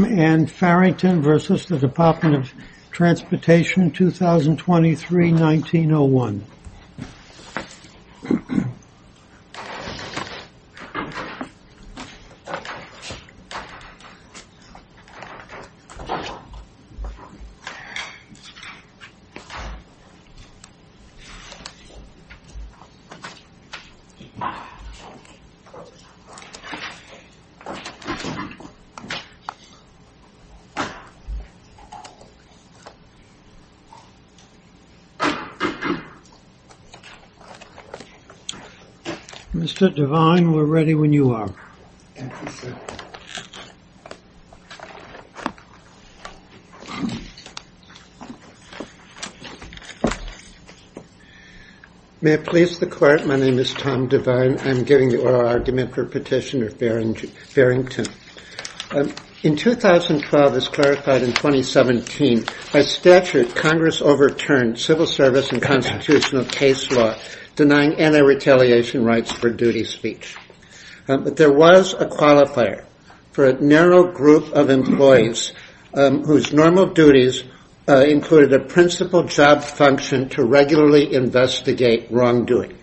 and Farrington v. Department of Transportation, 2023-1901. Mr. Devine, we're ready when you are. May it please the court, my name is Tom Devine. I'm giving the oral argument for petitioner Farrington. In 2012, as clarified in 2017, by statute, Congress overturned civil service and constitutional case law denying anti-retaliation rights for duty speech. But there was a qualifier for a narrow group of employees whose normal duties included a principal job function to regularly investigate wrongdoing.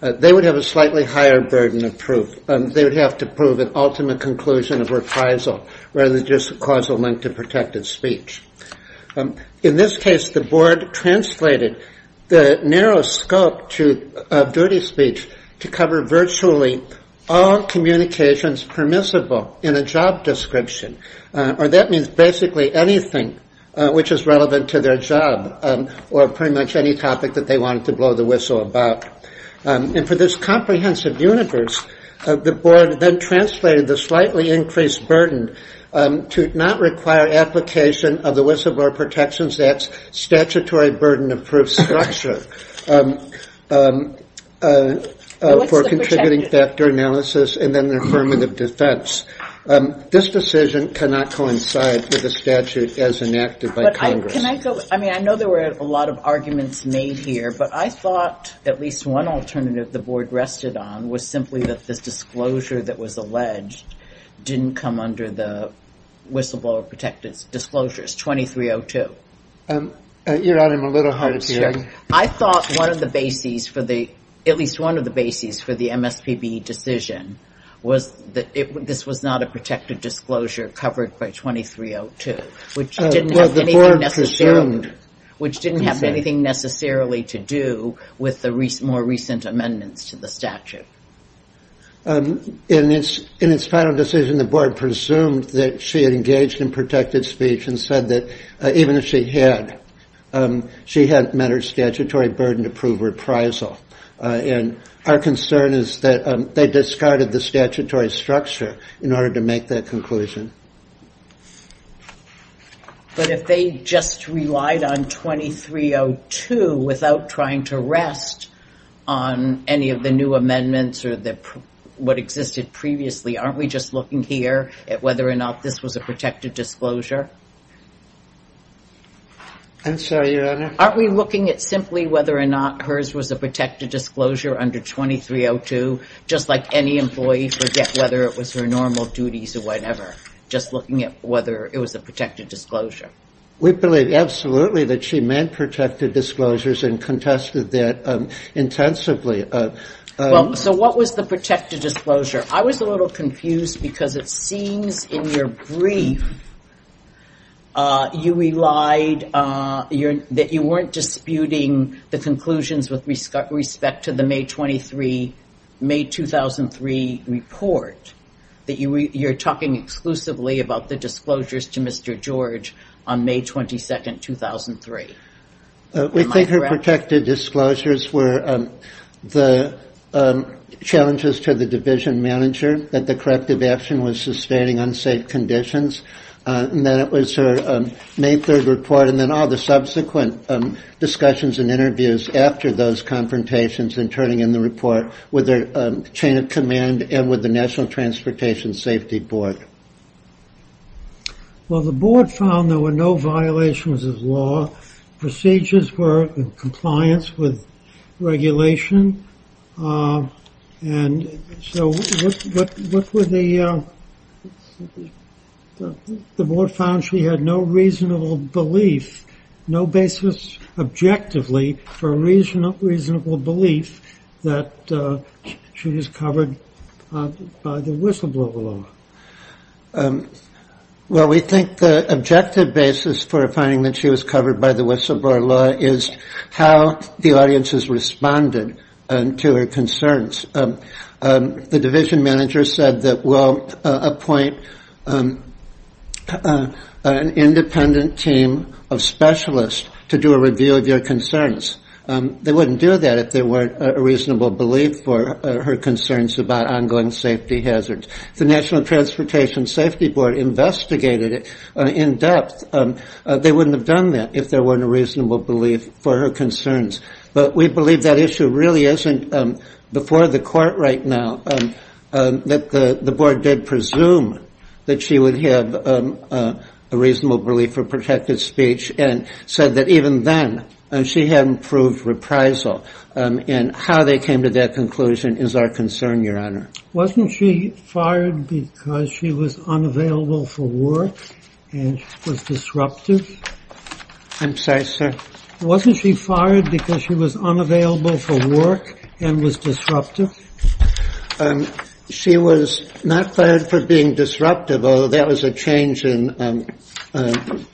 They would have a slightly higher burden of proof. They would have to prove an ultimate conclusion of reprisal rather than just a causal link to protected speech. In this case, the board translated the narrow scope of duty speech to cover virtually all communications permissible in a job description, or that means basically anything which is relevant to their job or pretty much any topic that they wanted to whistle about. And for this comprehensive universe, the board then translated the slightly increased burden to not require application of the whistleblower protections that's statutory burden of proof structure for contributing factor analysis and then affirmative defense. This decision cannot coincide with the statute as enacted by Congress. Can I go? I mean, I know there were a lot of arguments made here, but I thought at least one alternative the board rested on was simply that this disclosure that was alleged didn't come under the whistleblower protected disclosures. 2302, I thought one of the bases for the at least one of the bases for the MSPB decision was that this was not a protected disclosure covered by 2302, which didn't have anything necessarily to do with the more recent amendments to the statute. In its final decision, the board presumed that she had engaged in protected speech and said that even if she had, she had met her statutory burden to prove reprisal. And our concern is that they discarded the statutory structure in order to make that conclusion. But if they just relied on 2302 without trying to rest on any of the new amendments or what existed previously, aren't we just looking here at whether or not this was a protected disclosure? I'm sorry, Your Honor? Aren't we looking at simply whether or not hers was a protected disclosure under 2302, just like any employee forget whether it was her normal duties or whatever, just looking at whether it was a protected disclosure? We believe absolutely that she meant protected disclosures and contested that intensively. So what was the protected disclosure? I was a little confused because it seems in your brief, you relied, that you weren't disputing the conclusions with respect to the May 23, May 2003 report, that you're talking exclusively about the disclosures to Mr. George on May 22, 2003. Am I correct? We think her protected disclosures were the challenges to the division manager, that the corrective action was sustaining unsafe conditions, and that it was her May 3 report and then all the subsequent discussions and interviews after those confrontations and turning in the report with the chain of command and with the National Transportation Safety Board. Well, the board found there were no violations of law. Procedures were in compliance with regulation. And so what were the, the board found she had no reasonable belief, no basis objectively for a reasonable belief that she was covered by the whistleblower law. Well, we think the objective basis for finding that she was covered by the whistleblower law is how the audiences responded to her concerns. The division manager said that we'll appoint an independent team of specialists to do a review of your concerns. They wouldn't do that if there weren't a reasonable belief for her concerns about ongoing safety hazards. The National Transportation Safety Board investigated it in depth. They wouldn't have done that if there weren't a reasonable belief for her concerns. But we believe that issue really isn't before the court right now, that the board did presume that she would have a reasonable belief for protected speech and said that even then she hadn't proved reprisal. And how they came to that conclusion is our concern, Your Honor. Wasn't she fired because she was unavailable for work and was disruptive? I'm sorry, sir. Wasn't she fired because she was unavailable for work and was disruptive? She was not fired for being disruptive, although that was a change in,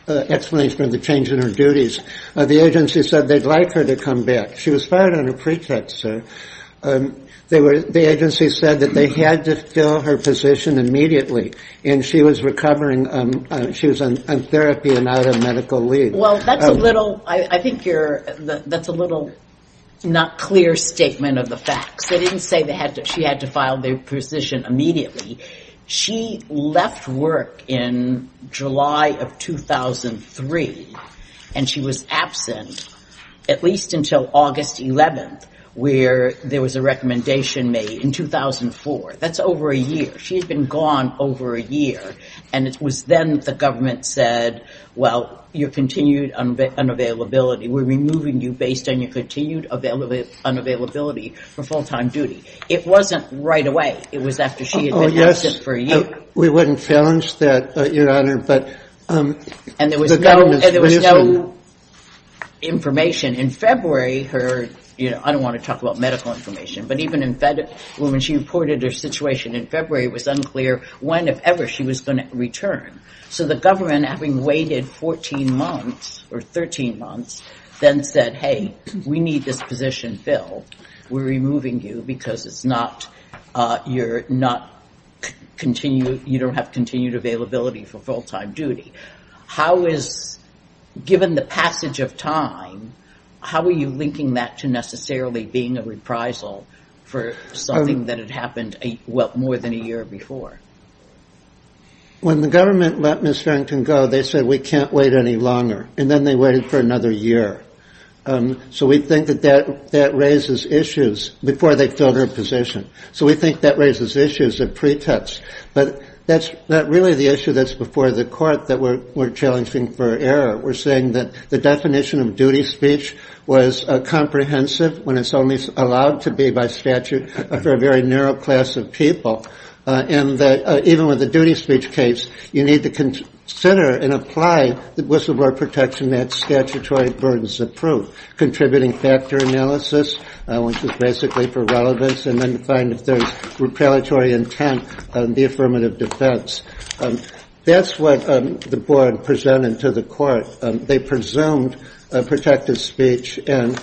explanation of the change in her duties. The agency said they'd like her to come back. She was fired on her pretext, sir. They were, the agency said that they had to fill her position immediately and she was recovering, she was on therapy and out of medical leave. Well, that's a little, I think you're, that's a little not clear statement of the facts. They didn't say they had to, she had to file the position immediately. She left work in July of 2003 and she was absent at least until August 11th where there was a recommendation made in 2004. That's over a year. She's been gone over a year. And it was then that the government said, well, you're continued unavailability. We're removing you based on your continued unavailability for full-time duty. It wasn't right away. It was after she had been absent for a year. Oh, yes. We wouldn't challenge that, Your Honor, but the government's reason. And there was no, there was no information. In February, her, you know, I don't want to talk about medical information, but even in, when she reported her situation in February, it was unclear when, if ever, she was going to return. So the government, having waited 14 months or 13 months, then said, hey, we need this position filled. We're removing you because it's not, you're not continued, you don't have continued availability for full-time duty. How is, given the passage of time, how are you linking that to necessarily being a reprisal for something that had happened, well, more than a year before? When the government let Ms. Farrington go, they said we can't wait any longer. And then they waited for another year. So we think that that raises issues before they filled her position. So we think that raises issues of pretext. But that's not really the issue that's before the court that we're challenging for error. We're saying that the definition of duty speech was comprehensive when it's only allowed to be by statute for a very narrow class of people. And that even with the duty speech case, you need to consider and apply the whistleblower protection that statutory burdens approve. Contributing factor analysis, which is basically for relevance, and then find if there's repellatory intent on the affirmative defense. That's what the board presented to the court. They presumed protective speech and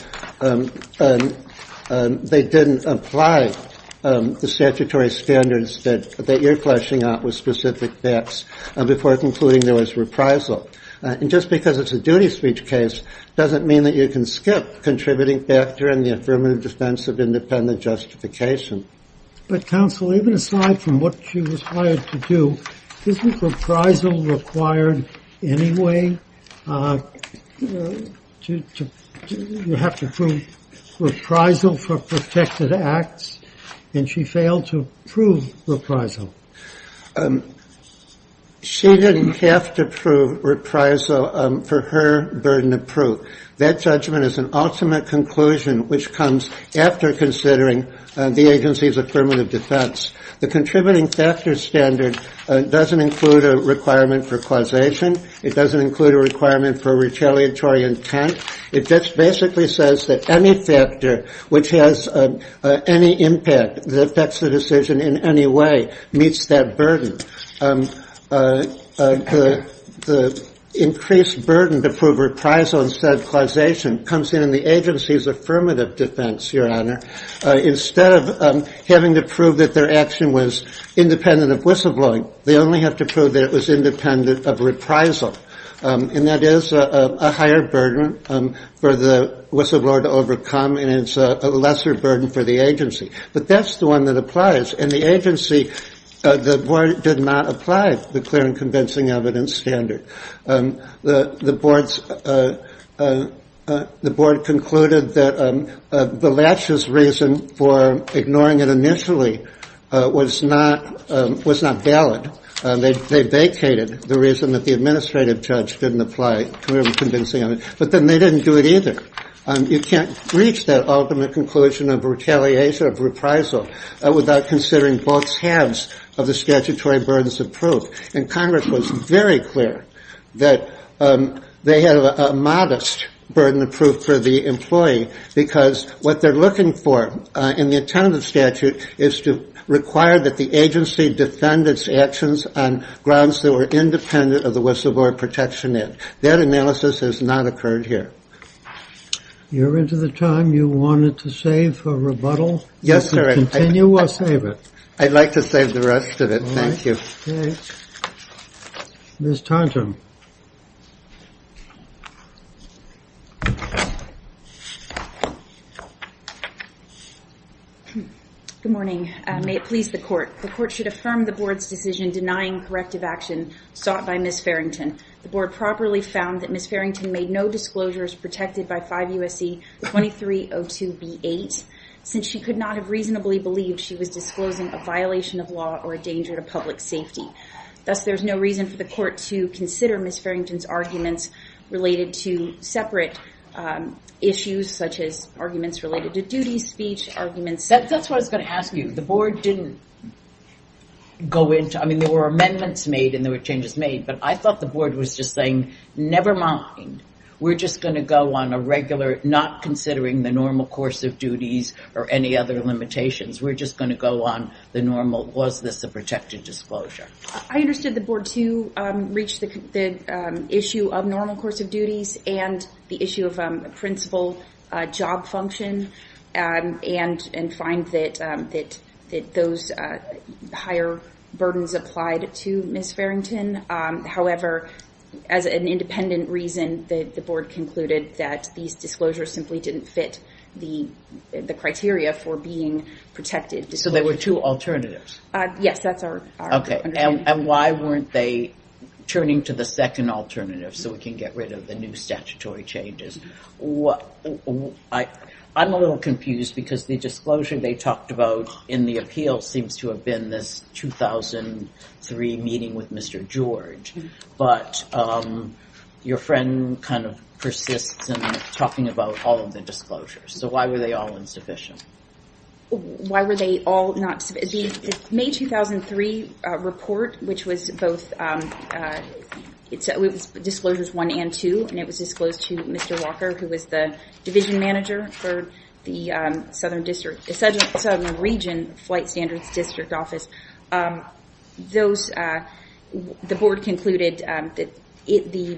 they didn't apply the statutory standards that you're fleshing out with specific bets before concluding there was reprisal. And just because it's a duty speech case doesn't mean that you can skip contributing factor and the affirmative defense of independent justification. But counsel, even aside from what she was hired to do, isn't reprisal required anyway? Do you have to prove reprisal for protected acts? And she failed to prove reprisal. She didn't have to prove reprisal for her burden of proof. That judgment is an ultimate conclusion, which comes after considering the agency's affirmative defense. The contributing factor standard doesn't include a requirement for causation. It doesn't include a requirement for retaliatory intent. It just basically says that any factor which has any impact that affects the decision in any way meets that burden. The increased burden to prove reprisal instead of causation comes in the agency's affirmative defense, your honor. Instead of having to prove that their action was independent of whistleblowing, they only have to prove that it was independent of reprisal. And that is a higher burden for the whistleblower to overcome and it's a lesser burden for the agency. But that's the one that applies. In the agency, the board did not apply the clear and convincing evidence standard. The board concluded that the latches reason for ignoring it initially was not valid. They vacated the reason that the administrative judge didn't apply clear and convincing evidence. But then they didn't do it either. You can't reach that ultimate conclusion of retaliation of reprisal without considering both halves of the statutory burdens of proof. And Congress was very clear that they had a modest burden of proof for the employee because what they're looking for in the attendance statute is to require that the agency defend its actions on grounds that were independent of the whistleblower protection. That analysis has not occurred here. You're into the time you wanted to save for rebuttal? Yes, sir. Continue or save it? I'd like to save the rest of it. Thank you. Okay, Ms. Tantum. Good morning. May it please the court. The court should affirm the board's decision denying corrective action sought by Ms. Farrington. The board properly found that Ms. Farrington made no disclosures protected by 5 U.S.C. 2302b8 since she could not have reasonably believed she was disclosing a violation of law or a danger to public safety. Thus, there's no reason for the court to consider Ms. Farrington's arguments related to separate issues such as arguments related to duty speech arguments. That's what I was going to ask you. The board didn't go into, I mean, there were amendments made and there were changes made, but I thought the board was just saying, never mind. We're just going to go on a regular, not considering the normal course of duties or any other limitations. We're just going to go on the normal, was this a protected disclosure? I understood the board, too, reached the issue of normal course of duties and the issue of principal job function and find that those higher burdens applied to Ms. Farrington. However, as an independent reason, the board concluded that these disclosures simply didn't fit the criteria for being protected. So there were two alternatives? Yes, that's our understanding. And why weren't they turning to the second alternative so we can get rid of the new statutory changes? I'm a little confused because the disclosure they talked about in the appeal seems to have been this 2003 meeting with Mr. George, but your friend kind of persists in talking about all of the disclosures. So why were they all insufficient? Why were they all not, the May 2003 report, which was both, it was disclosures one and two, and it was disclosed to Mr. Walker, who was the division manager for the Southern Region Flight Standards District Office. The board concluded that the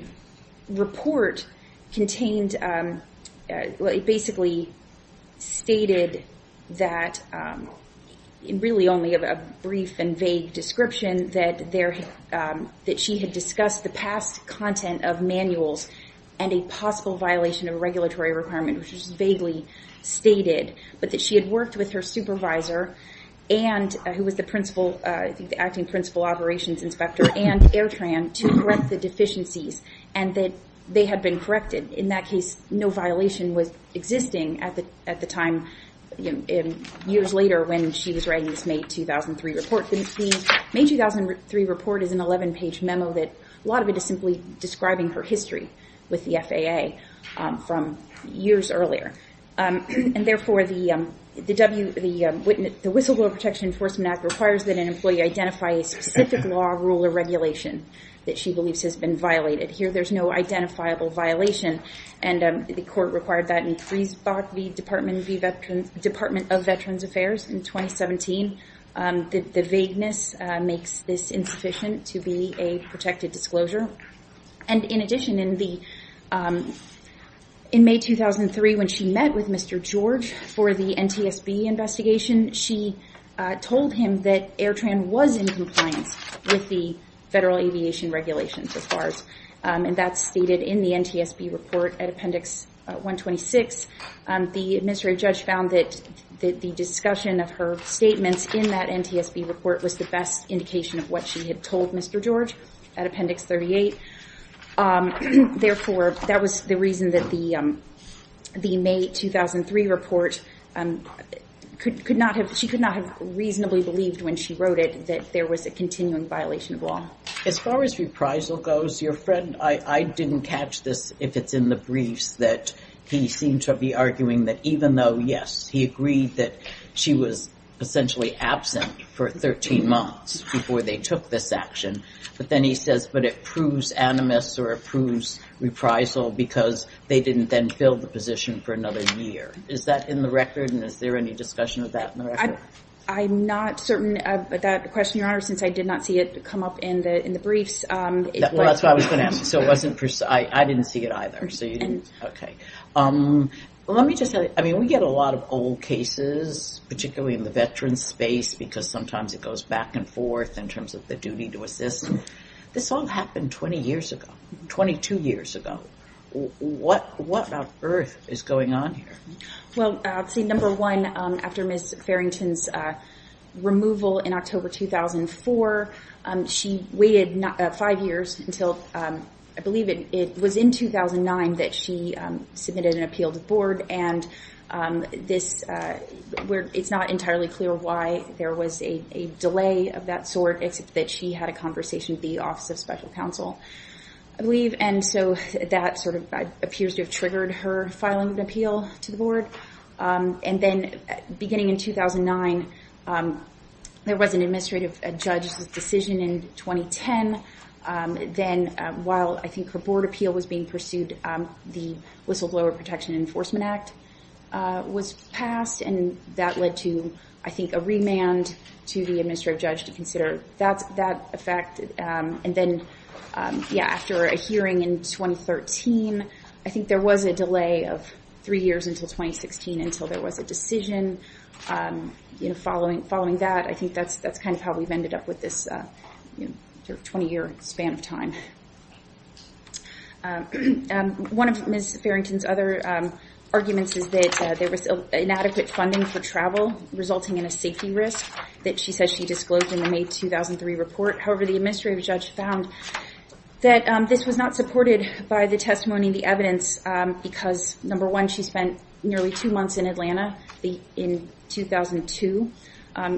report contained, well, it basically stated that, really only a brief and vague description, that she had discussed the past content of manuals and a possible violation of a regulatory requirement, which was vaguely stated, but that she had worked with her supervisor, who was the acting principal operations inspector and Airtran, to correct the deficiencies, and that they had been corrected. In that case, no violation was existing at the time, years later, when she was writing this May 2003 report. The May 2003 report is an 11-page memo that, a lot of it is simply describing her history with the FAA from years earlier, and therefore, the Whistleblower Protection Enforcement Act requires that an employee identify a specific law, rule, or regulation that she believes has been violated. Here, there's no identifiable violation, and the court required that in Friesbach v. Department of Veterans Affairs in 2017. The vagueness makes this insufficient to be a protected disclosure. And in addition, in May 2003, when she met with Mr. George for the NTSB investigation, she told him that Airtran was in compliance with the federal aviation regulations as far as, and that's stated in the NTSB report at Appendix 126. The administrative judge found that the discussion of her statements in that NTSB report was the best indication of what she had told Mr. George at Appendix 38. Therefore, that was the reason that the May 2003 report, she could not have reasonably believed when she wrote it that there was a continuing violation of law. As far as reprisal goes, your friend, I didn't catch this, if it's in the briefs, that he seemed to be even though, yes, he agreed that she was essentially absent for 13 months before they took this action, but then he says, but it proves animus or it proves reprisal because they didn't then fill the position for another year. Is that in the record? And is there any discussion of that in the record? I'm not certain of that question, Your Honor, since I did not see it come up in the briefs. Well, that's what I was going to ask you. I didn't see it either. Okay. Let me just say, I mean, we get a lot of old cases, particularly in the veteran's space, because sometimes it goes back and forth in terms of the duty to assist. This all happened 20 years ago, 22 years ago. What on earth is going on here? Well, see, number one, after Ms. Farrington's removal in October 2004, she waited five years until, I believe it was in 2009, that she submitted an appeal to the board. And it's not entirely clear why there was a delay of that sort, except that she had a conversation with the Office of Special Counsel, I believe. And so that sort of appears to have triggered her filing an appeal to the board. And then, beginning in 2009, there was an administrative judge's decision in 2010. Then, while I think her board appeal was being pursued, the Whistleblower Protection Enforcement Act was passed, and that led to, I think, a remand to the administrative judge to consider that effect. And then, yeah, after a hearing in 2013, I think there was a delay of three years until 2016 until there was a decision following that. I think that's kind of how we've ended up with this 20-year span of time. One of Ms. Farrington's other arguments is that there was inadequate funding for travel, resulting in a safety risk that she says she disclosed in the May 2003 report. However, the administrative judge found that this was not supported by the testimony and the evidence because, number one, she spent nearly two months in Atlanta in 2002,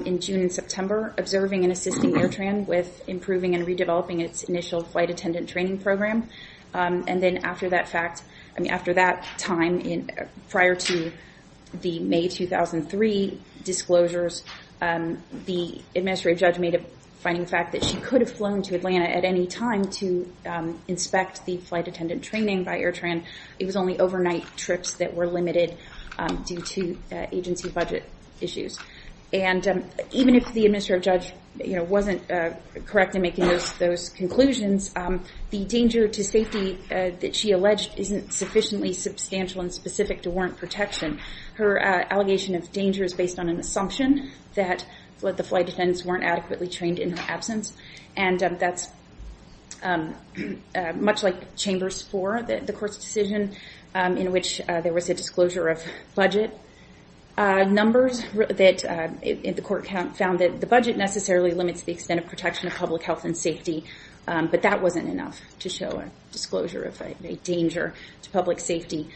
in June and September, observing and assisting AirTran with improving and redeveloping its initial flight attendant training program. And then, after that time, prior to the May 2003 disclosures, the administrative judge made a finding of the fact that she could have flown to Atlanta at any time to inspect the flight attendant training by AirTran. It was only overnight trips that were limited due to agency budget issues. And even if the administrative judge wasn't correct in making those conclusions, the danger to safety that she alleged isn't sufficiently substantial and specific to warrant protection. Her allegation of danger is based on an assumption that the flight attendants weren't adequately trained in her absence. And that's much like Chambers 4, the court's decision, in which there was a disclosure of budget numbers. The court found that the budget necessarily limits the extent of protection of public health and safety, but that wasn't enough to show a disclosure of a danger to public safety.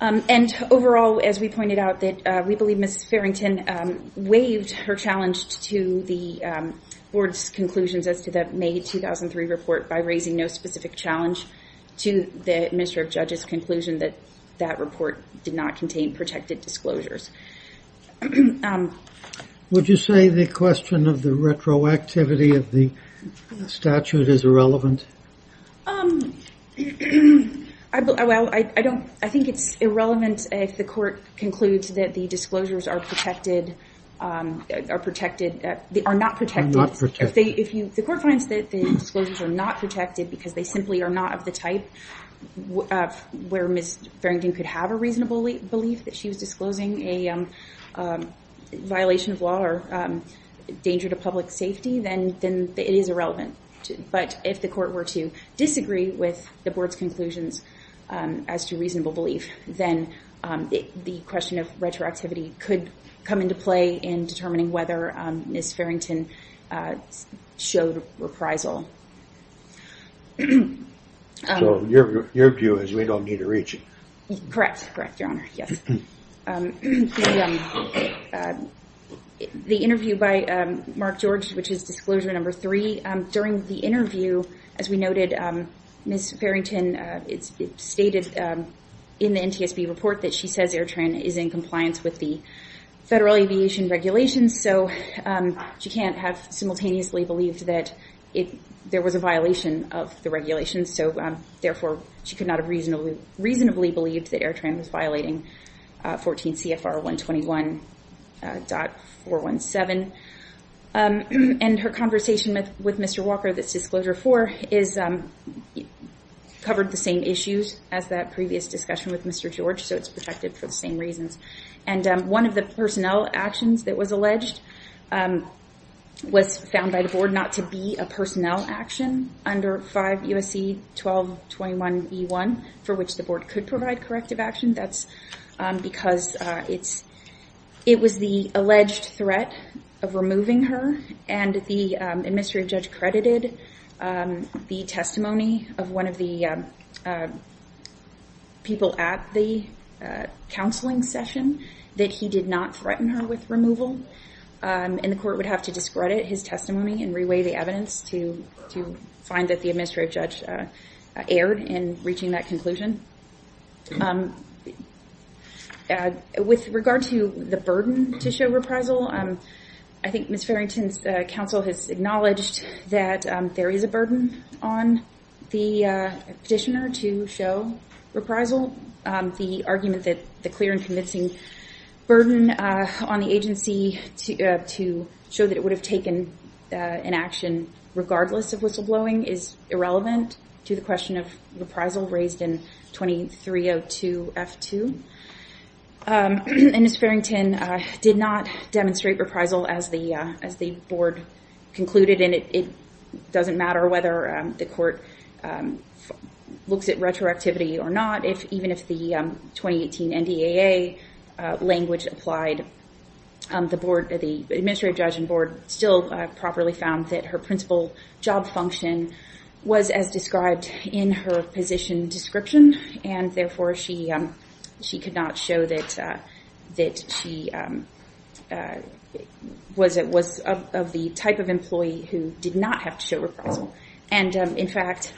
And overall, as we pointed out, we believe Ms. Farrington waived her challenge to the board's conclusions as to the May 2003 report by raising no specific challenge to the administrative judge's conclusion that that report did not contain protected disclosures. Would you say the question of the retroactivity of the statute is irrelevant? Well, I think it's irrelevant if the court concludes that the disclosures are not protected. The court finds that the disclosures are not protected because they simply are not of the type where Ms. Farrington could have a reasonable belief that she was disclosing a violation of law or danger to public safety, then it is irrelevant. But if the court were to disagree with the board's conclusions as to reasonable belief, then the question of retroactivity could come into play in determining whether Ms. Farrington showed reprisal. So your view is we don't need to reach it? Correct, correct, Your Honor. Yes. The interview by Mark George, which is disclosure number three, during the interview, as we noted, Ms. Farrington stated in the NTSB report that she says AirTran is in compliance with the federal aviation regulations, so she can't have simultaneously believed that there was a violation of the regulations, so therefore she could not have reasonably believed that AirTran was violating 14 CFR 121.417. And her conversation with Mr. Walker, this disclosure four, covered the same issues as that previous discussion with Mr. George, so it's protected for the same reasons. And one of the personnel actions that was alleged was found by the board not to be a personnel action under 5 U.S.C. 1221E1, for which the board could provide corrective action. That's because it was the alleged threat of removing her, and the administrative judge credited the testimony of one of the people at the counseling session that he did not threaten her with removal, and the court would have to discredit his testimony and reweigh the evidence to find that the administrative judge erred in reaching that conclusion. With regard to the burden to show reprisal, I think Ms. Farrington's counsel has acknowledged that there is a burden on the petitioner to show reprisal. The argument that the clear and convincing burden on the agency to show that it would have taken an action regardless of whistleblowing is irrelevant to the question of reprisal raised in 2302F2. And Ms. Farrington did not demonstrate reprisal as the board concluded, and it doesn't matter whether the court looks at retroactivity or not, even if the 2018 NDAA language applied, the administrative judge and board still properly found that her principal job function was as described in her position description, and therefore she could not show that she was of the type of employee who did not have to show reprisal. And in fact,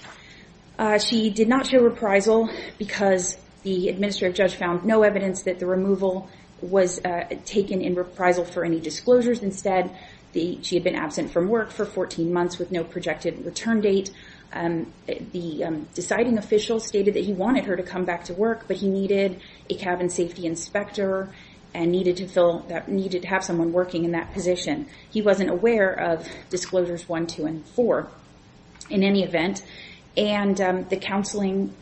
she did not show reprisal because the administrative judge found no evidence that the removal was taken in reprisal for any disclosures instead. She had been absent from work for 14 months with no projected return date. The deciding official stated that he wanted her to come back to work, but he needed a cabin safety inspector and needed to have someone working in that position. He wasn't aware of disclosures one, two, and four in any event. And the counseling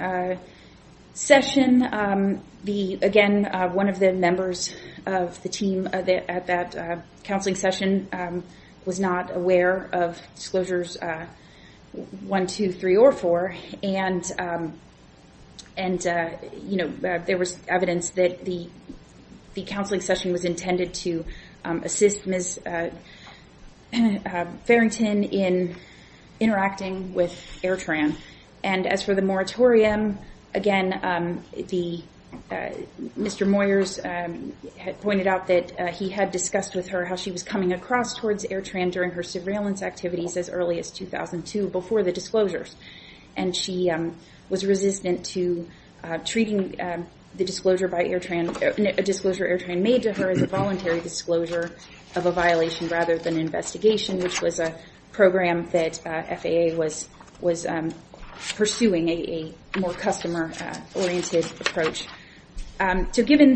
session, again, one of the members of the team at that counseling session was not aware of disclosures one, two, three, or four, and there was evidence that the counseling session was intended to assist Ms. Farrington in interacting with Airtran. And as for the moratorium, again, Mr. Moyers had pointed out that he had discussed with her how she was coming across towards Airtran during her surveillance activities as early as 2002 before the disclosures, and she was resistant to treating a disclosure Airtran made to her as a voluntary disclosure of a violation rather than investigation, which was a program that FAA was pursuing, a more customer-oriented approach. So given,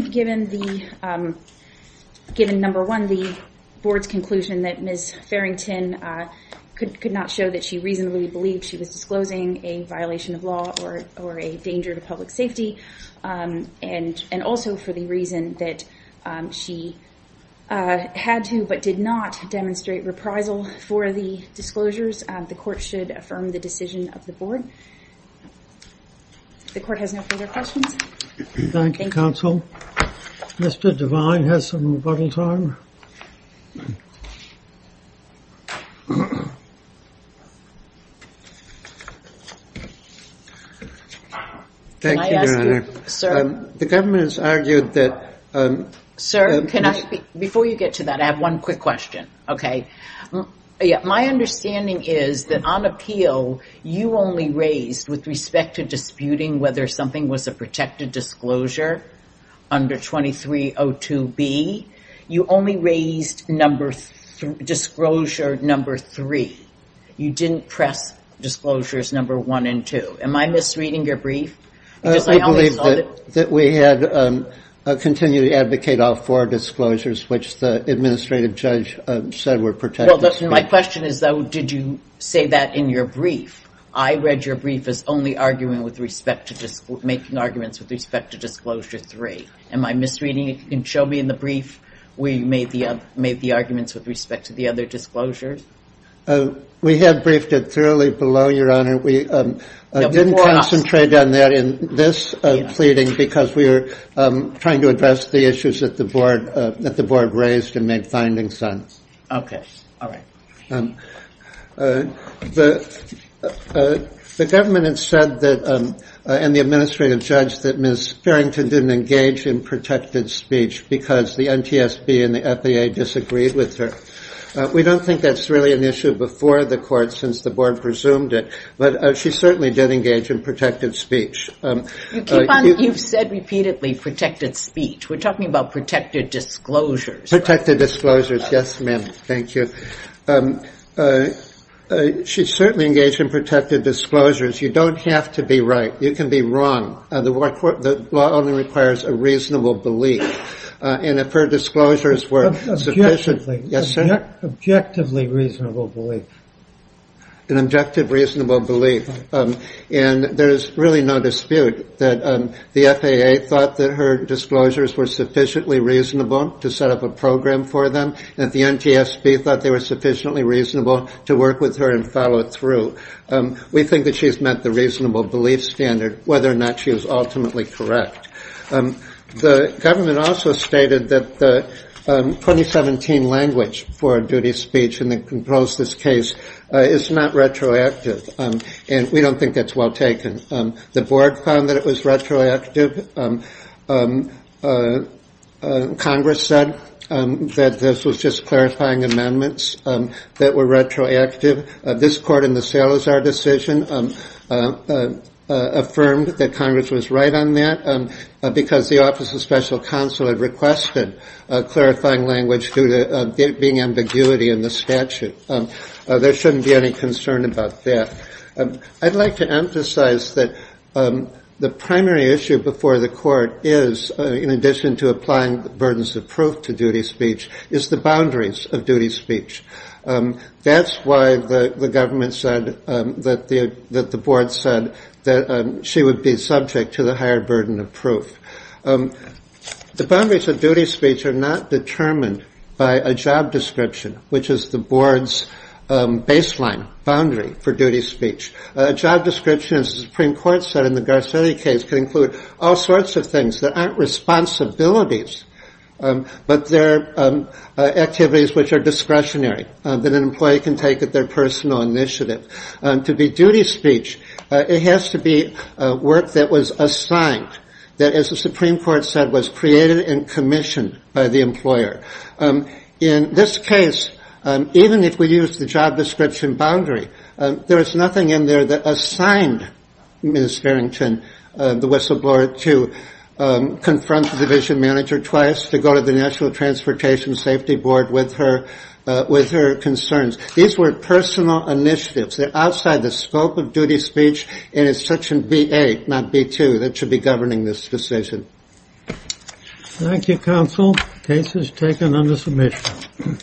number one, the Board's conclusion that Ms. Farrington could not show that she reasonably believed she was disclosing a violation of law or a danger to public safety, and also for the reason that she had to but did not demonstrate reprisal for the disclosures, the Court should affirm the decision of the Board. The Court has no further questions. Thank you, Counsel. Mr. Devine has some rebuttal time. Thank you, Your Honor. The government has argued that Sir, before you get to that, I have one quick question. My understanding is that on appeal, you only raised, with respect to disputing whether something was a disclosure number three. You didn't press disclosures number one and two. Am I misreading your brief? I continue to advocate all four disclosures, which the administrative judge said were protected. My question is, though, did you say that in your brief? I read your brief as only arguing with respect to disclosures three. Am I misreading it? Can you show me in the brief where you made the arguments with respect to the other disclosures? We had briefed it thoroughly below, Your Honor. We didn't concentrate on that in this pleading because we were trying to address the issues that the Board raised and made finding sense. Okay. All right. The government had said that and the administrative judge that Ms. Farrington didn't engage in protected speech because the NTSB and the FAA disagreed with her. We don't think that's really an issue before the Court since the Board presumed it. But she certainly did engage in protected speech. You've said repeatedly protected speech. We're talking about protected disclosures. Protected disclosures. Yes, ma'am. Thank you. She certainly engaged in protected disclosures. You don't have to be right. You can be wrong. The law only requires a reasonable belief. And if her disclosures were Objectively reasonable belief. An objective reasonable belief. And there's really no dispute that the FAA thought that her disclosures were sufficiently reasonable to set up a program for them. And the NTSB thought they were sufficiently reasonable to work with her and follow through. We think that she's met the reasonable belief standard, whether or not she was ultimately correct. The government also stated that the 2017 language for a duty speech in the proposed case is not retroactive. And we don't think that's well taken. The Board found that it was retroactive. Congress said that this was just clarifying amendments that were retroactive. This Court in the Salazar decision affirmed that Congress was right on that, because the Office of Special Counsel had requested clarifying language due to it being ambiguity in the statute. There shouldn't be any concern about that. I'd like to emphasize that the primary issue before the Court is, in addition to applying the burdens of proof to duty speech, is the boundaries of duty speech. That's why the government said that the Board said that she would be subject to the higher burden of proof. The boundaries of duty speech are not determined by a job description, which is the Board's baseline boundary for duty speech. A job description, as the Supreme Court said in the Garcetti case, can include all sorts of things that aren't responsibilities, but they're activities which are discretionary that an employee can take at their personal initiative. To be duty speech, it has to be work that was assigned, that, as the Supreme Court said, was created and commissioned by the employer. In this case, even if we use the job description boundary, there is nothing in there that assigned Ms. Farrington, the whistleblower, to confront the division manager twice, to go to the National Transportation Safety Board with her concerns. These were personal initiatives. They're outside the scope of duty speech, and it's Section B-8, not B-2, that should be governing this decision. Thank you, Counsel. The case is taken under submission.